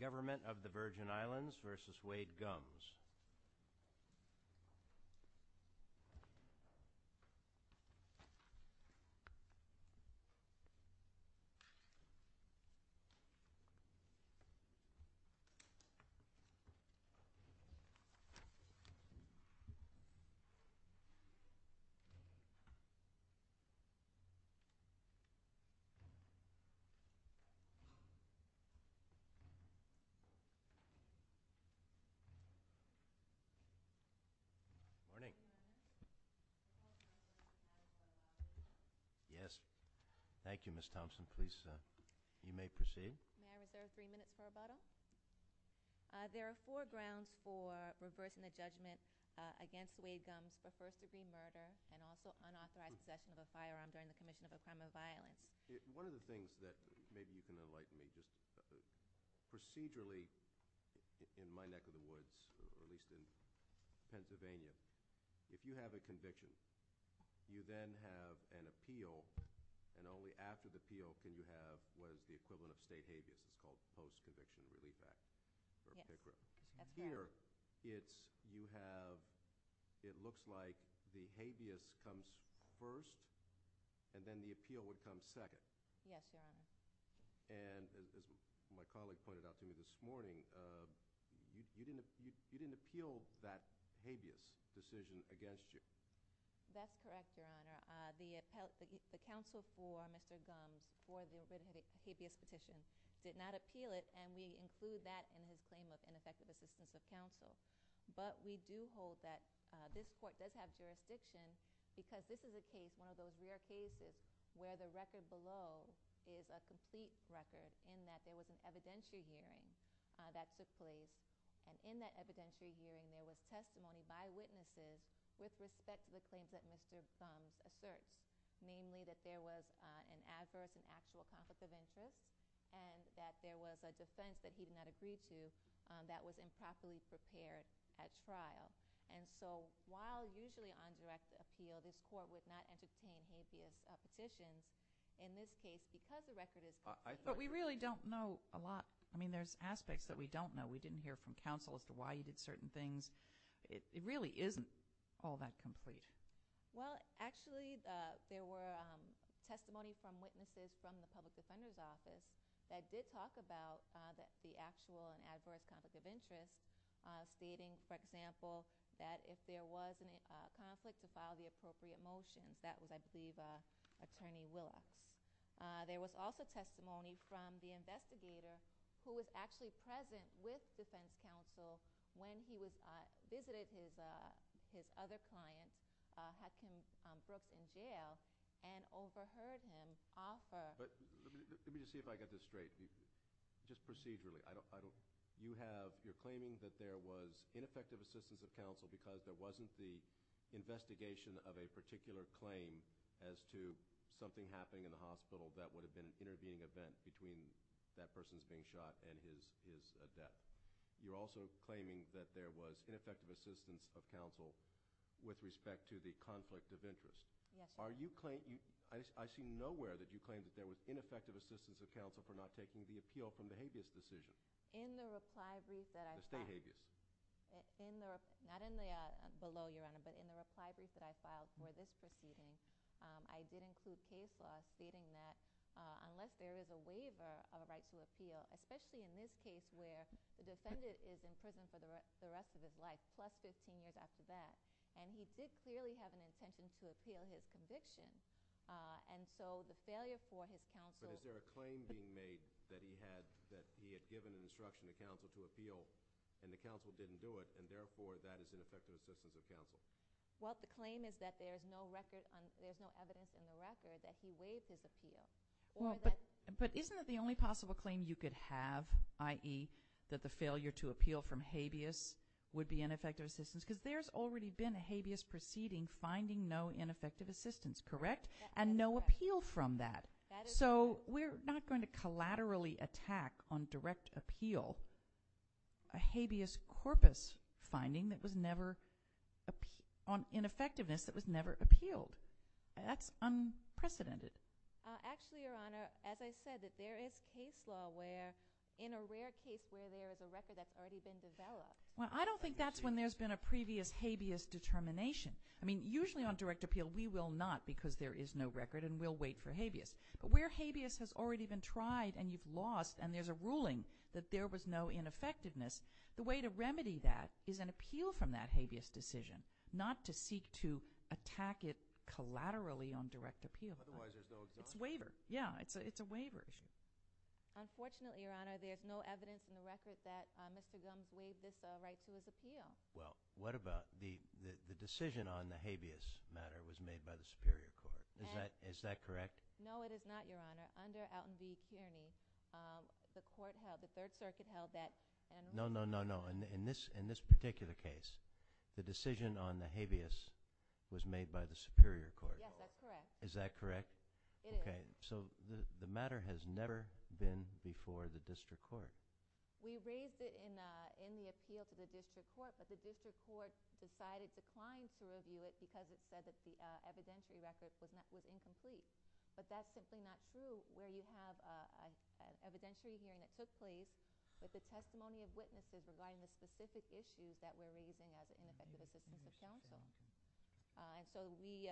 Government of the Virgin Islands v. Wade Gumbs There are four grounds for reversing the judgment against Wade Gumbs for first degree murder and also unauthorized possession of a firearm during the commission of a crime of violence. One of the things that maybe you can enlighten me, procedurally, in my neck of the woods, at least in Pennsylvania, if you have a conviction, you then have an appeal, and only after the appeal can you have what is the equivalent of state habeas, it's called post-conviction relief act, or PICRA. Here, it looks like the habeas comes first and then the appeal would come second. Yes, Your Honor. And as my colleague pointed out to me this morning, you didn't appeal that habeas decision against you. That's correct, Your Honor. The counsel for Mr. Gumbs for the habeas petition did not appeal it, and we include that in his respective assistance of counsel, but we do hold that this court does have jurisdiction because this is a case, one of those rare cases, where the record below is a complete record in that there was an evidentiary hearing that took place, and in that evidentiary hearing there was testimony by witnesses with respect to the claims that Mr. Gumbs asserts, namely that there was an adverse and actual conflict of interest and that there was a defense that he did not agree to that was improperly prepared at trial, and so while usually on direct appeal, this court would not entertain habeas petitions in this case because the record is complete. But we really don't know a lot. I mean, there's aspects that we don't know. We didn't hear from counsel as to why he did certain things. It really isn't all that complete. Well, actually, there were testimonies from witnesses from the public defender's office that did talk about the actual and adverse conflict of interest, stating, for example, that if there was a conflict, to file the appropriate motions. That was, I believe, Attorney Willacks. There was also testimony from the investigator who was actually present with defense counsel when he visited his other client, Hadken Brook, in jail and overheard him offer— Let me just see if I get this straight. Just procedurally, you're claiming that there was ineffective assistance of counsel because there wasn't the investigation of a particular claim as to something happening in the hospital that would have been an intervening event between that person's being shot and his death. You're also claiming that there was ineffective assistance of counsel with respect to the conflict of interest. I see nowhere that you claim that there was ineffective assistance of counsel for not taking the appeal from the habeas decision. In the reply brief that I filed— The state habeas. Not below, Your Honor, but in the reply brief that I filed for this proceeding, I did include case law stating that unless there is a waiver of a right to appeal, especially in this case where the defendant is in prison for the rest of his life, plus 15 years after that, and he did clearly have an intention to appeal his conviction, and so the failure for his counsel— But is there a claim being made that he had given an instruction to counsel to appeal and the counsel didn't do it, and therefore that is ineffective assistance of counsel? Well, the claim is that there is no evidence in the record that he waived his appeal. But isn't that the only possible claim you could have, i.e., that the failure to appeal from habeas would be ineffective assistance? Because there's already been a habeas proceeding finding no ineffective assistance, correct? And no appeal from that. So we're not going to collaterally attack on direct appeal a habeas corpus finding that was never— on ineffectiveness that was never appealed. That's unprecedented. Actually, Your Honor, as I said, that there is case law where, in a rare case where there is a record that's already been developed— Well, I don't think that's when there's been a previous habeas determination. I mean, usually on direct appeal we will not because there is no record and we'll wait for habeas. But where habeas has already been tried and you've lost and there's a ruling that there was no ineffectiveness, the way to remedy that is an appeal from that habeas decision, not to seek to attack it collaterally on direct appeal. Otherwise there's no— It's a waiver. Yeah, it's a waiver issue. Unfortunately, Your Honor, there's no evidence in the record that Mr. Gumbs waived this right to his appeal. Well, what about the decision on the habeas matter was made by the Superior Court. Is that correct? No, it is not, Your Honor. Under Elton B. Tierney, the court held—the Third Circuit held that— No, no, no, no. In this particular case, the decision on the habeas was made by the Superior Court. Yes, that's correct. Is that correct? It is. Okay. So the matter has never been before the district court. We raised it in the appeal to the district court, but the district court decided to decline to review it because it said that the evidentiary record was incomplete. But that's simply not true where you have an evidentiary hearing that took place with the testimony of witnesses regarding the specific issues that we're raising as ineffective assistance to counsel. And so we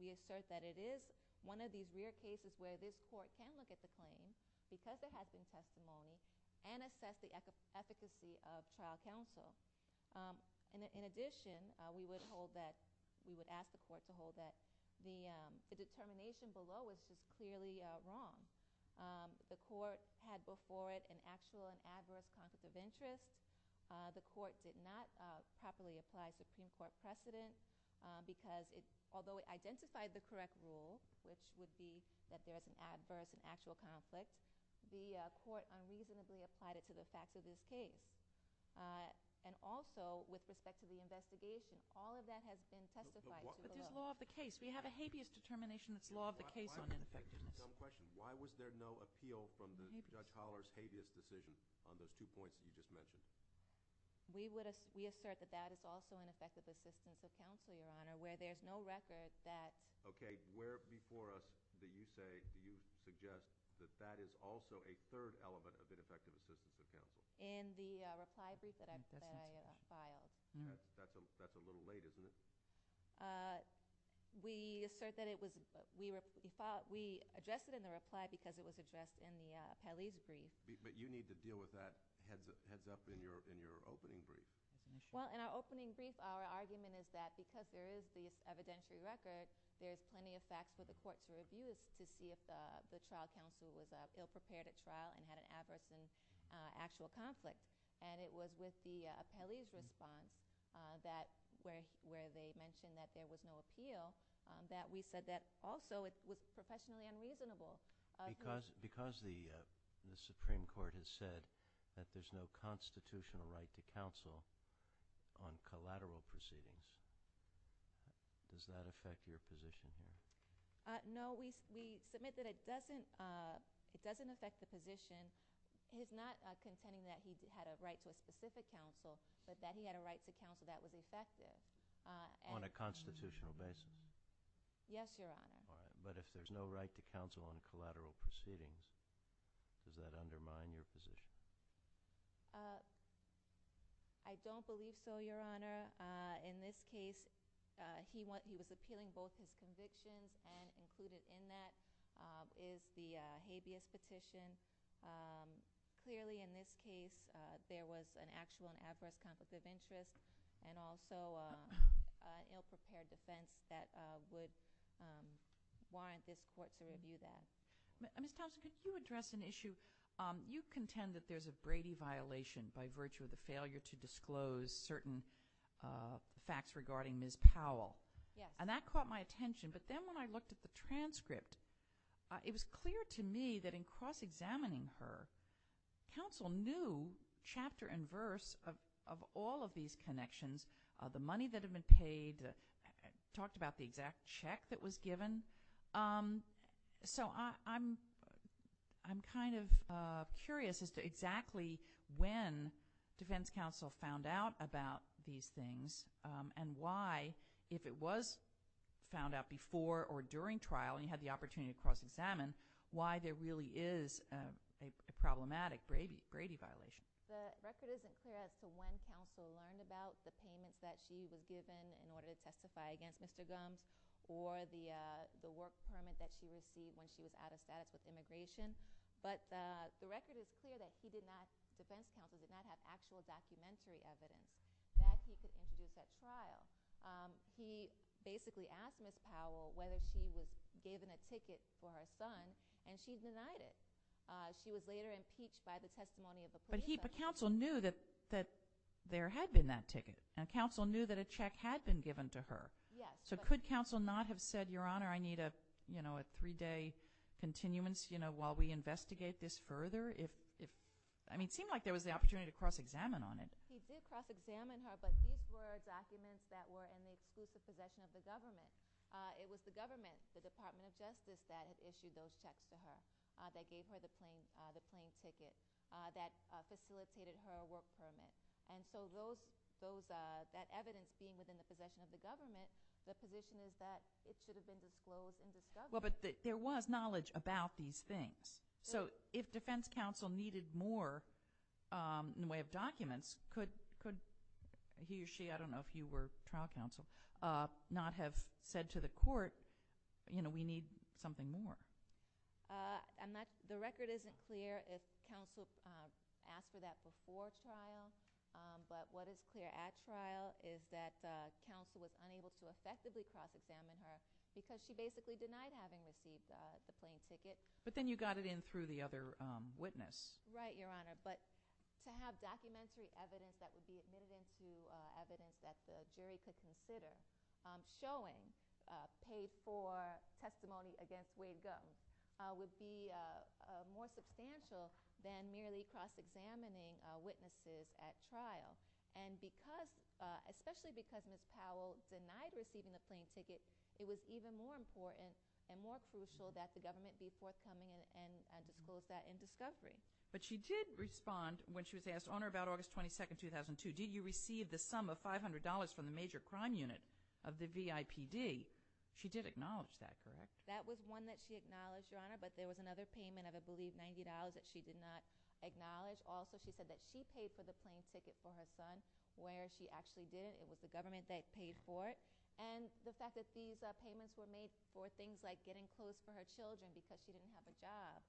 assert that it is one of these rare cases where this court can look at the claims because there have been testimonies and assess the efficacy of trial counsel. In addition, we would hold that—we would ask the court to hold that the determination below is clearly wrong. The court had before it an actual and adverse conflict of interest. The court did not properly apply Supreme Court precedent because it—although it identified the correct rule, which would be that there is an adverse and actual conflict, the court unreasonably applied it to the fact of this case. And also, with respect to the investigation, all of that has been testified below. But there's law of the case. We have a habeas determination that's law of the case on ineffectiveness. That's a dumb question. Why was there no appeal from Judge Holler's habeas decision on those two points that you just mentioned? We assert that that is also ineffective assistance to counsel, Your Honor, where there's no record that— Okay. Where before us do you say—do you suggest that that is also a third element of ineffective assistance to counsel? In the reply brief that I filed. That's a little late, isn't it? We assert that it was—we addressed it in the reply because it was addressed in the appellee's brief. But you need to deal with that heads up in your opening brief. Well, in our opening brief, our argument is that because there is this evidentiary record, there's plenty of facts for the court to review to see if the trial counsel was ill-prepared at trial and had an adverse and actual conflict. And it was with the appellee's response that where they mentioned that there was no appeal, that we said that also it was professionally unreasonable. Because the Supreme Court has said that there's no constitutional right to counsel on collateral proceedings, does that affect your position here? No. We submit that it doesn't affect the position. He's not contending that he had a right to a specific counsel, but that he had a right to counsel that was effective. On a constitutional basis? Yes, Your Honor. All right. But if there's no right to counsel on collateral proceedings, does that undermine your position? I don't believe so, Your Honor. In this case, he was appealing both his convictions and included in that is the habeas petition. Clearly, in this case, there was an actual and adverse conflict of interest and also an ill-prepared defense that would warrant this court to review that. Ms. Thompson, could you address an issue? You contend that there's a Brady violation by virtue of the failure to disclose certain facts regarding Ms. Powell. Yes. And that caught my attention. But then when I looked at the transcript, it was clear to me that in cross-examining her, counsel knew chapter and verse of all of these connections, the money that had been paid, talked about the exact check that was given. So I'm kind of curious as to exactly when Defense Counsel found out about these things and why, if it was found out before or during trial and you had the opportunity to cross-examine, why there really is a problematic Brady violation. The record isn't clear as to when counsel learned about the payments that she was given in order to testify against Mr. Gumbs or the work permit that she received when she was out of status with immigration. But the record is clear that Defense Counsel did not have actual documentary evidence that he could introduce at trial. He basically asked Ms. Powell whether she was given a ticket for her son, and she denied it. She was later impeached by the testimony of a police officer. But counsel knew that there had been that ticket, and counsel knew that a check had been given to her. Yes. So could counsel not have said, Your Honor, I need a three-day continuance while we investigate this further? I mean, it seemed like there was the opportunity to cross-examine on it. He did cross-examine her, but these were documents that were in the exclusive possession of the government. It was the government, the Department of Justice, that had issued those checks to her, that gave her the plain ticket, that facilitated her work permit. And so that evidence being within the possession of the government, the position is that it should have been disclosed and discovered. Well, but there was knowledge about these things. So if Defense Counsel needed more in the way of documents, could he or she – I don't know if you were trial counsel – not have said to the court, you know, we need something more? The record isn't clear if counsel asked for that before trial, but what is clear at trial is that counsel was unable to effectively cross-examine her because she basically denied having received the plain ticket. But then you got it in through the other witness. Right, Your Honor. But to have documentary evidence that would be admitted into evidence that the jury could consider showing paid-for testimony against Wade Gunn would be more substantial than merely cross-examining witnesses at trial. And because – especially because Ms. Powell denied receiving the plain ticket, it was even more important and more crucial that the government be forthcoming and disclose that in discovery. But she did respond when she was asked, on or about August 22, 2002, did you receive the sum of $500 from the major crime unit of the VIPD? She did acknowledge that, correct? That was one that she acknowledged, Your Honor. But there was another payment of, I believe, $90 that she did not acknowledge. Also, she said that she paid for the plain ticket for her son where she actually did it. It was the government that paid for it. And the fact that these payments were made for things like getting clothes for her children because she didn't have a job,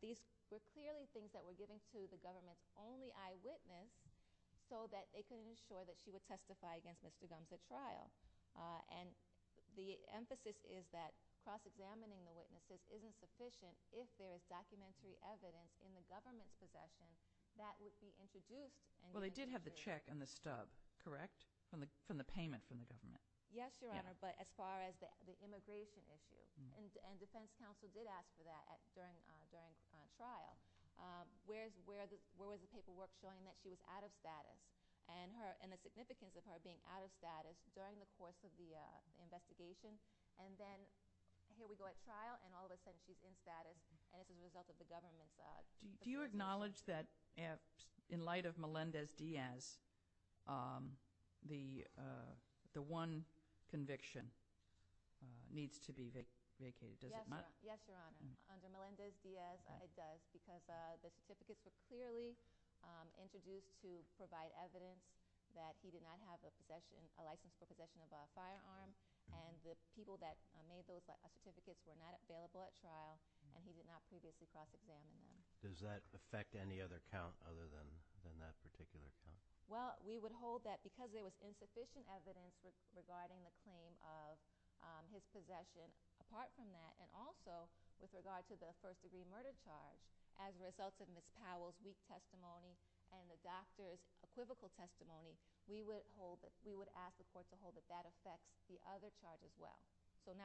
these were clearly things that were given to the government's only eyewitness so that they could ensure that she would testify against Mr. Gunn at trial. And the emphasis is that cross-examining the witnesses isn't sufficient if there is documentary evidence in the government's possession that would be introduced. Well, they did have the check and the stub, correct? From the payment from the government. Yes, Your Honor, but as far as the immigration issue. And defense counsel did ask for that during trial. Where was the paperwork showing that she was out of status and the significance of her being out of status during the course of the investigation? And then here we go at trial, and all of a sudden she's in status, and it's a result of the government's— Do you acknowledge that in light of Melendez-Diaz, the one conviction needs to be vacated? Yes, Your Honor, under Melendez-Diaz it does because the certificates were clearly introduced to provide evidence that he did not have a license for possession of a firearm and the people that made those certificates were not available at trial and he did not previously cross-examine them. Does that affect any other count other than that particular count? Well, we would hold that because there was insufficient evidence regarding the claim of his possession apart from that and also with regard to the first-degree murder charge as a result of Ms. Powell's weak testimony and the doctor's equivocal testimony, we would ask the court to hold that that affects the other charge as well. But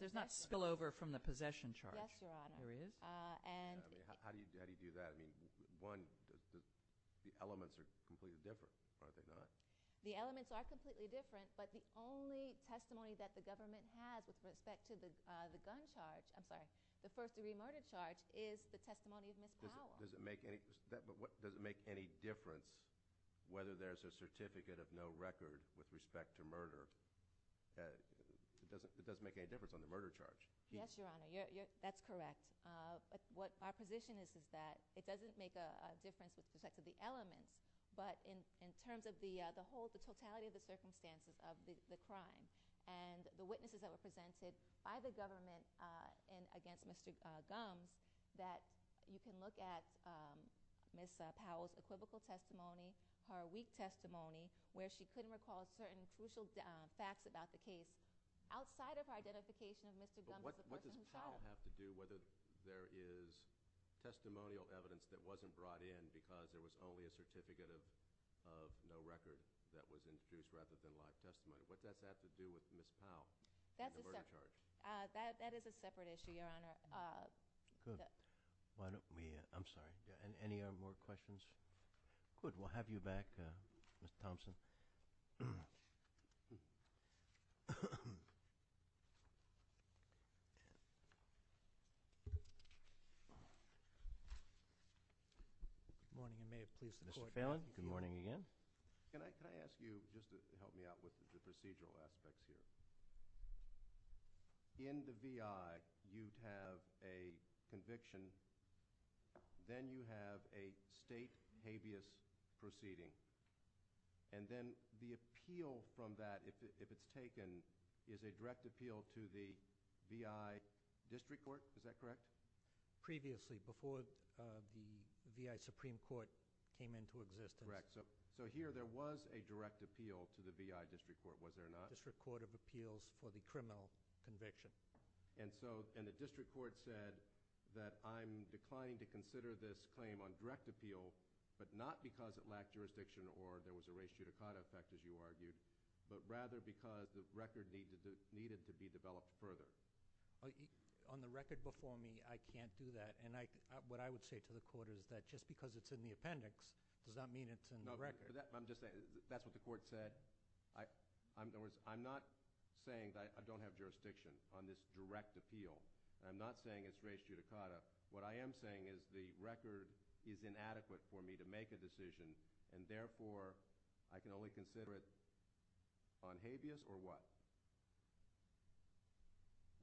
there's not spillover from the possession charge? Yes, Your Honor. There is? How do you do that? I mean, one, the elements are completely different, are they not? The elements are completely different, but the only testimony that the government has with respect to the gun charge— I'm sorry, the first-degree murder charge is the testimony of Ms. Powell. Does it make any difference whether there's a certificate of no record with respect to murder? It doesn't make any difference on the murder charge. Yes, Your Honor, that's correct. Our position is that it doesn't make a difference with respect to the elements, but in terms of the totality of the circumstances of the crime and the witnesses that were presented by the government against Mr. Gumbs, that you can look at Ms. Powell's equivocal testimony, her weak testimony where she couldn't recall certain crucial facts about the case outside of her identification of Mr. Gumbs as a person in charge. But what does Powell have to do whether there is testimonial evidence that wasn't brought in because there was only a certificate of no record that was introduced rather than live testimony? What does that have to do with Ms. Powell and the murder charge? That is a separate issue, Your Honor. Good. Why don't we—I'm sorry. Any more questions? Good. We'll have you back, Mr. Thompson. Good morning. I may have pleased the court. Mr. Phelan, good morning again. Can I ask you just to help me out with the procedural aspects here? In the V.I., you have a conviction. Then you have a state habeas proceeding. And then the appeal from that, if it's taken, is a direct appeal to the V.I. District Court. Is that correct? Previously, before the V.I. Supreme Court came into existence. Correct. So here there was a direct appeal to the V.I. District Court, was there not? Yes, there was a direct appeal to the V.I. District Court of Appeals for the criminal conviction. And the district court said that I'm declining to consider this claim on direct appeal, but not because it lacked jurisdiction or there was a ratio to cut effect, as you argued, but rather because the record needed to be developed further. On the record before me, I can't do that. And what I would say to the court is that just because it's in the appendix does not mean it's in the record. I'm just saying that's what the court said. In other words, I'm not saying that I don't have jurisdiction on this direct appeal. I'm not saying it's ratio to cut it. What I am saying is the record is inadequate for me to make a decision, and therefore I can only consider it on habeas or what?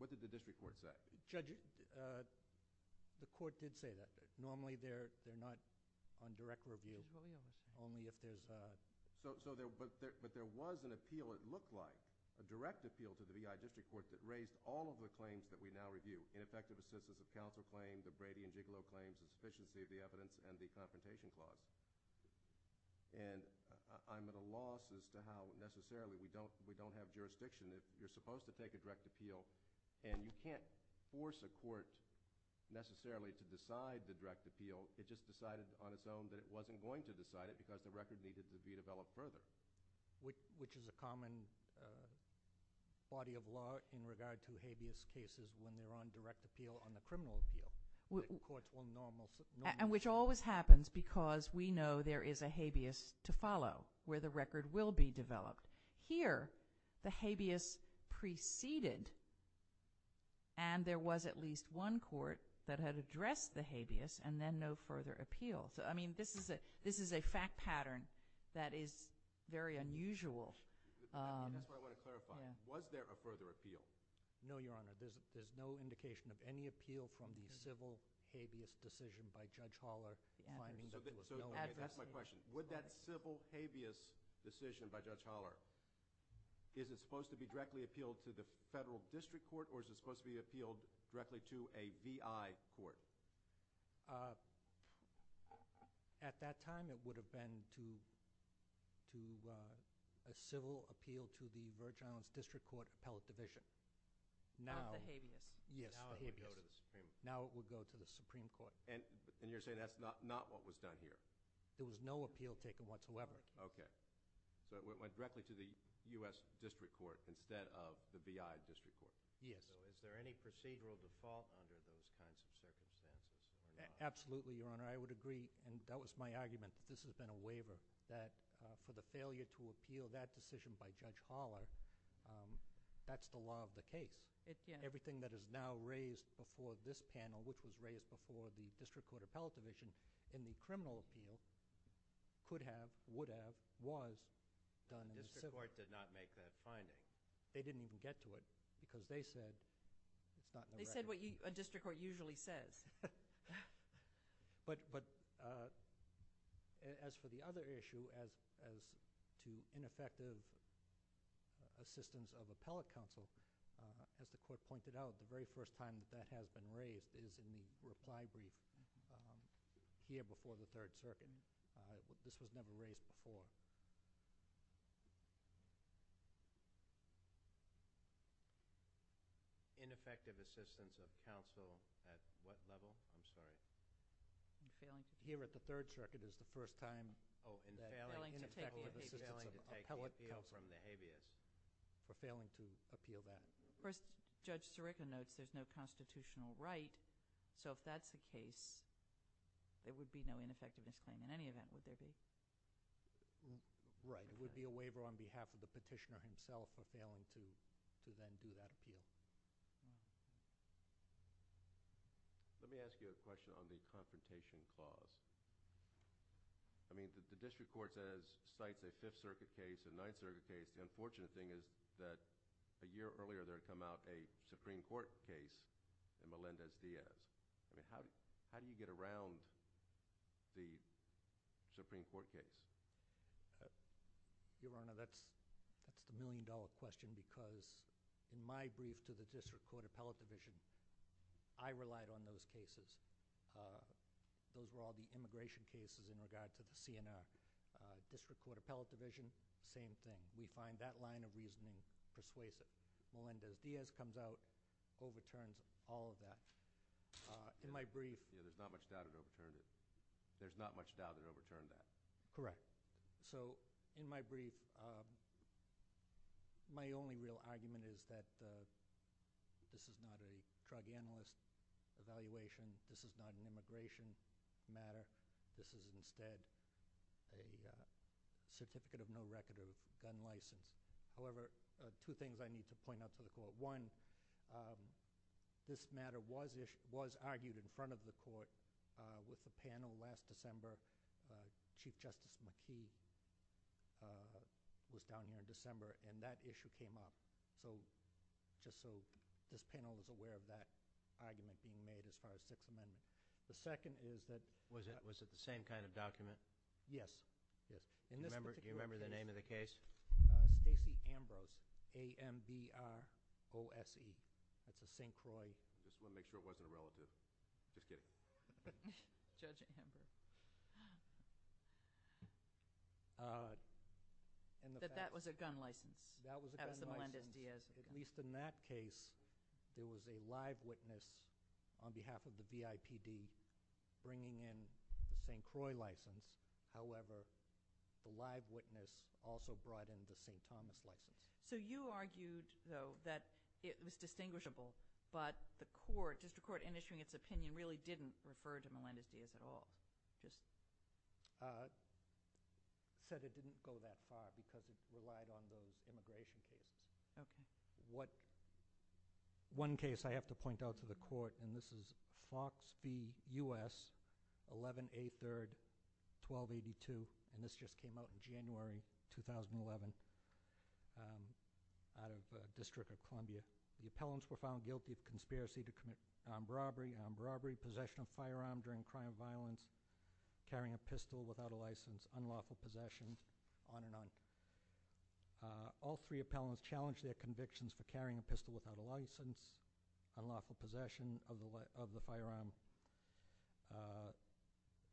What did the district court say? Judge, the court did say that. Normally they're not on direct review, only if there's a – But there was an appeal, it looked like, a direct appeal to the V.I. District Court that raised all of the claims that we now review, ineffective assistance of counsel claims, the Brady and Gigolo claims, insufficiency of the evidence, and the confrontation clause. And I'm at a loss as to how necessarily we don't have jurisdiction. If you're supposed to take a direct appeal and you can't force a court necessarily to decide the direct appeal, it just decided on its own that it wasn't going to decide it because the record needed to be developed further. Which is a common body of law in regard to habeas cases when they're on direct appeal on the criminal appeal. And which always happens because we know there is a habeas to follow where the record will be developed. Here, the habeas preceded and there was at least one court that had addressed the habeas and then no further appeal. So, I mean, this is a fact pattern that is very unusual. That's what I want to clarify. Was there a further appeal? No, Your Honor. There's no indication of any appeal from the civil habeas decision by Judge Holler. So, that's my question. Would that civil habeas decision by Judge Holler, is it supposed to be directly appealed to the Federal District Court or is it supposed to be appealed directly to a VI court? At that time, it would have been to a civil appeal to the Virgin Islands District Court Appellate Division. Not the habeas. Yes, the habeas. Now it would go to the Supreme Court. Now it would go to the Supreme Court. And you're saying that's not what was done here? There was no appeal taken whatsoever. Okay. So, it went directly to the U.S. District Court instead of the VI District Court. Yes. So, is there any procedural default under those kinds of circumstances? Absolutely, Your Honor. I would agree and that was my argument. This has been a waiver that for the failure to appeal that decision by Judge Holler, that's the law of the case. Everything that is now raised before this panel, which was raised before the District Court Appellate Division in the criminal appeal, could have, would have, was done in the civil. The District Court did not make that finding. They didn't even get to it because they said it's not in the record. They said what a district court usually says. But as for the other issue as to ineffective assistance of appellate counsel, as the Court pointed out, the very first time that has been raised is in the reply brief here before the Third Circuit. This was never raised before. Ineffective assistance of counsel at what level? I'm sorry. Here at the Third Circuit is the first time that ineffective assistance of appellate counsel has come from the habeas for failing to appeal that. First, Judge Sirica notes there's no constitutional right, so if that's the case, there would be no ineffectiveness claim in any event, would there be? Right. It would be a waiver on behalf of the petitioner himself for failing to then do that appeal. Let me ask you a question on the confrontation clause. I mean, the District Court says, cites a Fifth Circuit case, a Ninth Circuit case. The unfortunate thing is that a year earlier there had come out a Supreme Court case in Melendez-Diaz. I mean, how do you get around the Supreme Court case? Your Honor, that's the million-dollar question because in my brief to the District Court Appellate Division, I relied on those cases. Those were all the immigration cases in regard to the CNF. District Court Appellate Division, same thing. We find that line of reasoning persuasive. Melendez-Diaz comes out, overturns all of that. In my brief— Yeah, there's not much doubt it overturned it. There's not much doubt it overturned that. Correct. So in my brief, my only real argument is that this is not a drug analyst evaluation. This is not an immigration matter. This is instead a certificate of no record or gun license. However, two things I need to point out to the Court. One, this matter was argued in front of the Court with the panel last December. Chief Justice McKee was down here in December, and that issue came up. So just so this panel is aware of that argument being made as far as Sixth Amendment. The second is that— Was it the same kind of document? Yes. Do you remember the name of the case? Stacey Ambrose, A-M-B-R-O-S-E. That's a St. Croix— Just want to make sure it wasn't a relative. Just kidding. Judge Ambrose. That that was a gun license. That was a gun license. That was the Melendez-Diaz gun. At least in that case, there was a live witness on behalf of the BIPD bringing in the St. Croix license. However, the live witness also brought in the St. Thomas license. So you argued, though, that it was distinguishable, but the District Court, in issuing its opinion, really didn't refer to Melendez-Diaz at all? It said it didn't go that far because it relied on the immigration case. Okay. One case I have to point out to the Court, and this is Fox v. U.S., 11-A-3-1282, and this just came out in January 2011 out of the District of Columbia. The appellants were found guilty of conspiracy to commit armed robbery, armed robbery, possession of a firearm during a crime of violence, carrying a pistol without a license, unlawful possession, on and on. All three appellants challenged their convictions for carrying a pistol without a license, unlawful possession of the firearm.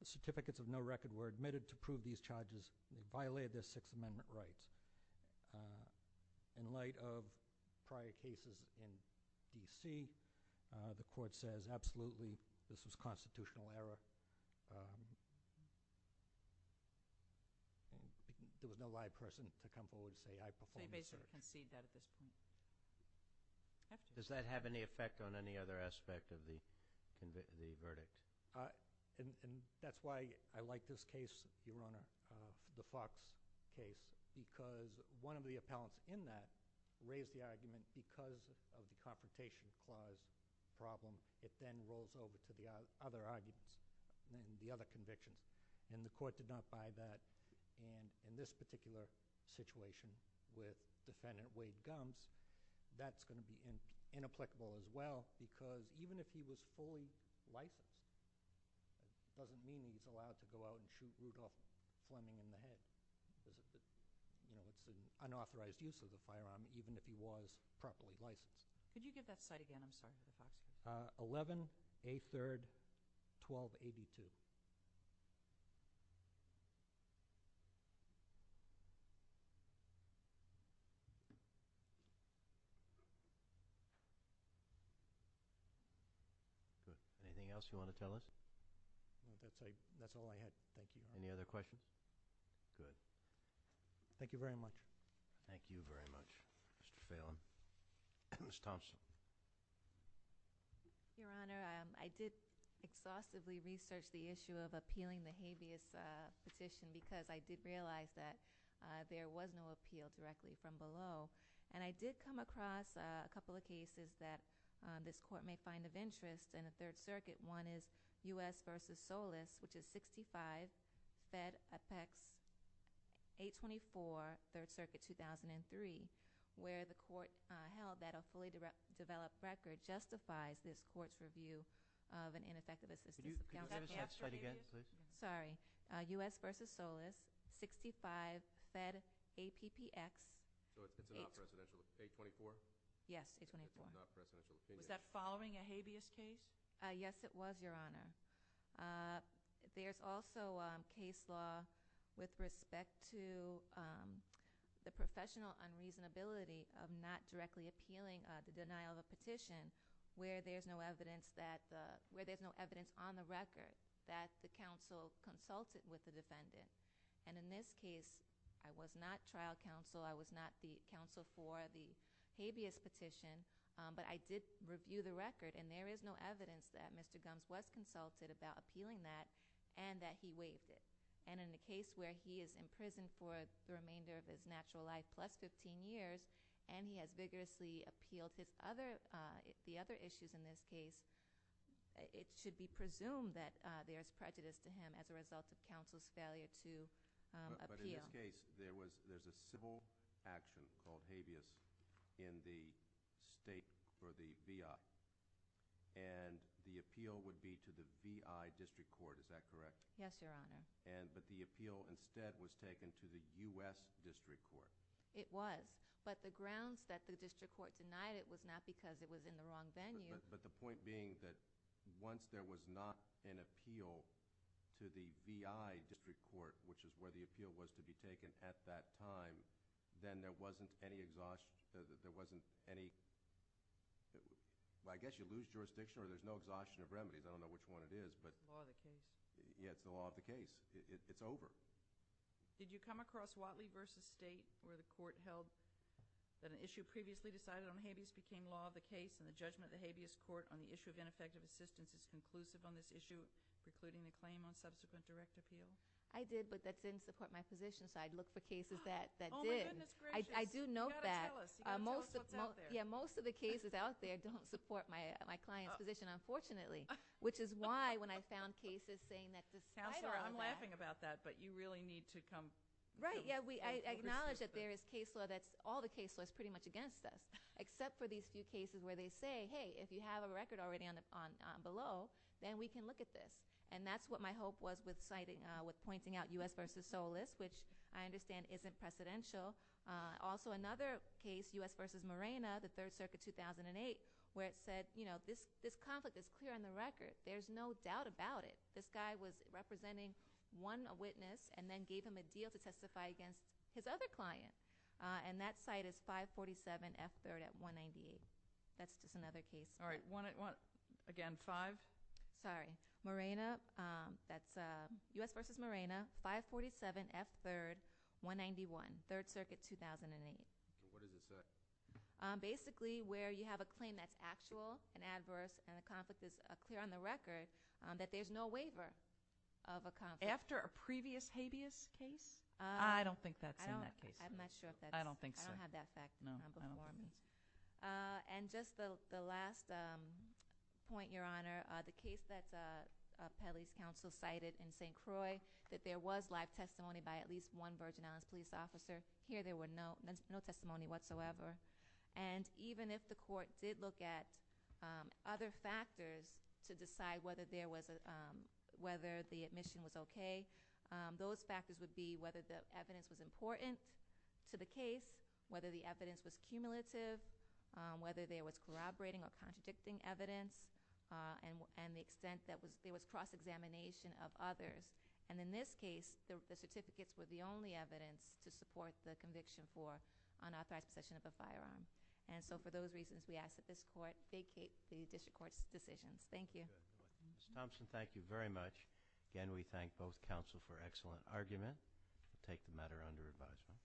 Certificates of no record were admitted to prove these charges violated their Sixth Amendment rights. In light of prior cases in D.C., the Court says, absolutely, this was constitutional error. There was no live person to come forward and say, I performed this error. They basically concede that at this point. Does that have any effect on any other aspect of the verdict? That's why I like this case, Your Honor, the Fox case, because one of the appellants in that raised the argument because of the Confrontation Clause problem. It then rolls over to the other arguments and the other convictions, and the Court did not buy that. And in this particular situation with Defendant Wade Gumbs, that's going to be inapplicable as well because even if he was fully licensed, it doesn't mean he's allowed to go out and shoot Rudolph Fleming in the head. It's an unauthorized use of the firearm even if he was properly licensed. Could you give that cite again? I'm sorry, Mr. Fox. 11A3-1282. Anything else you want to tell us? That's all I had. Thank you. Any other questions? Good. Thank you very much. Thank you very much, Mr. Phelan. Ms. Thompson. Your Honor, I did exhaustively research the issue of appealing the habeas petition because I did realize that there was no appeal directly from below, and I did come across a couple of cases that this Court may find of interest in the Third Circuit. One is U.S. v. Solis, which is 65 Fed Apex 824, Third Circuit, 2003, where the Court held that a fully developed record justifies this Court's review of an ineffective assistance appeal. Could you give that cite again, please? Sorry. U.S. v. Solis, 65 Fed Apex 824. Yes, 824. Was that following a habeas case? Yes, it was, Your Honor. There's also case law with respect to the professional unreasonability of not directly appealing the denial of a petition where there's no evidence on the record that the counsel consulted with the defendant. And in this case, I was not trial counsel. I was not the counsel for the habeas petition, but I did review the record, and there is no evidence that Mr. Gumbs was consulted about appealing that and that he waived it. And in the case where he is in prison for the remainder of his natural life plus 15 years, and he has vigorously appealed the other issues in this case, it should be presumed that there is prejudice to him as a result of counsel's failure to appeal. But in this case, there's a civil action called habeas in the state for the VI, and the appeal would be to the VI District Court. Is that correct? Yes, Your Honor. But the appeal instead was taken to the U.S. District Court. It was. But the grounds that the District Court denied it was not because it was in the wrong venue. But the point being that once there was not an appeal to the VI District Court, which is where the appeal was to be taken at that time, then there wasn't any exhaustion. There wasn't any—I guess you lose jurisdiction or there's no exhaustion of remedies. I don't know which one it is. It's the law of the case. Yes, it's the law of the case. It's over. Did you come across Whatley v. State where the court held that an issue previously decided on habeas became law of the case and the judgment of the habeas court on the issue of ineffective assistance is conclusive on this issue, precluding the claim on subsequent direct appeal? I did, but that didn't support my position, so I'd look for cases that did. Oh, my goodness gracious. I do note that. You've got to tell us. You've got to tell us what's out there. Yeah, most of the cases out there don't support my client's position, unfortunately, which is why when I found cases saying that this— Counselor, I'm laughing about that, but you really need to come— Right. Yeah, I acknowledge that there is case law that's—all the case law is pretty much against us, except for these few cases where they say, hey, if you have a record already on below, then we can look at this. And that's what my hope was with pointing out U.S. v. Solis, which I understand isn't precedential. Also, another case, U.S. v. Morena, the Third Circuit, 2008, where it said, you know, this conflict is clear on the record. There's no doubt about it. This guy was representing one witness and then gave him a deal to testify against his other client, and that site is 547 F. 3rd at 198. That's just another case. All right. Again, five? Sorry. Morena. That's U.S. v. Morena, 547 F. 3rd, 191, Third Circuit, 2008. What does it say? Basically, where you have a claim that's actual and adverse and the conflict is clear on the record, that there's no waiver of a conflict. After a previous habeas case? I don't think that's in that case. I'm not sure if that's in that case. I don't think so. I don't have that fact. No, I don't. And just the last point, Your Honor, the case that Pelley's counsel cited in St. Croix, that there was live testimony by at least one Virgin Islands police officer. Here there was no testimony whatsoever. And even if the court did look at other factors to decide whether the admission was okay, those factors would be whether the evidence was important to the case, whether the evidence was cumulative, whether there was corroborating or contradicting evidence, and the extent that there was cross-examination of others. And in this case, the certificates were the only evidence to support the conviction for unauthorized possession of a firearm. And so for those reasons, we ask that this court vacate the district court's decisions. Thank you. Ms. Thompson, thank you very much. Again, we thank both counsel for excellent argument and take the matter under advisement.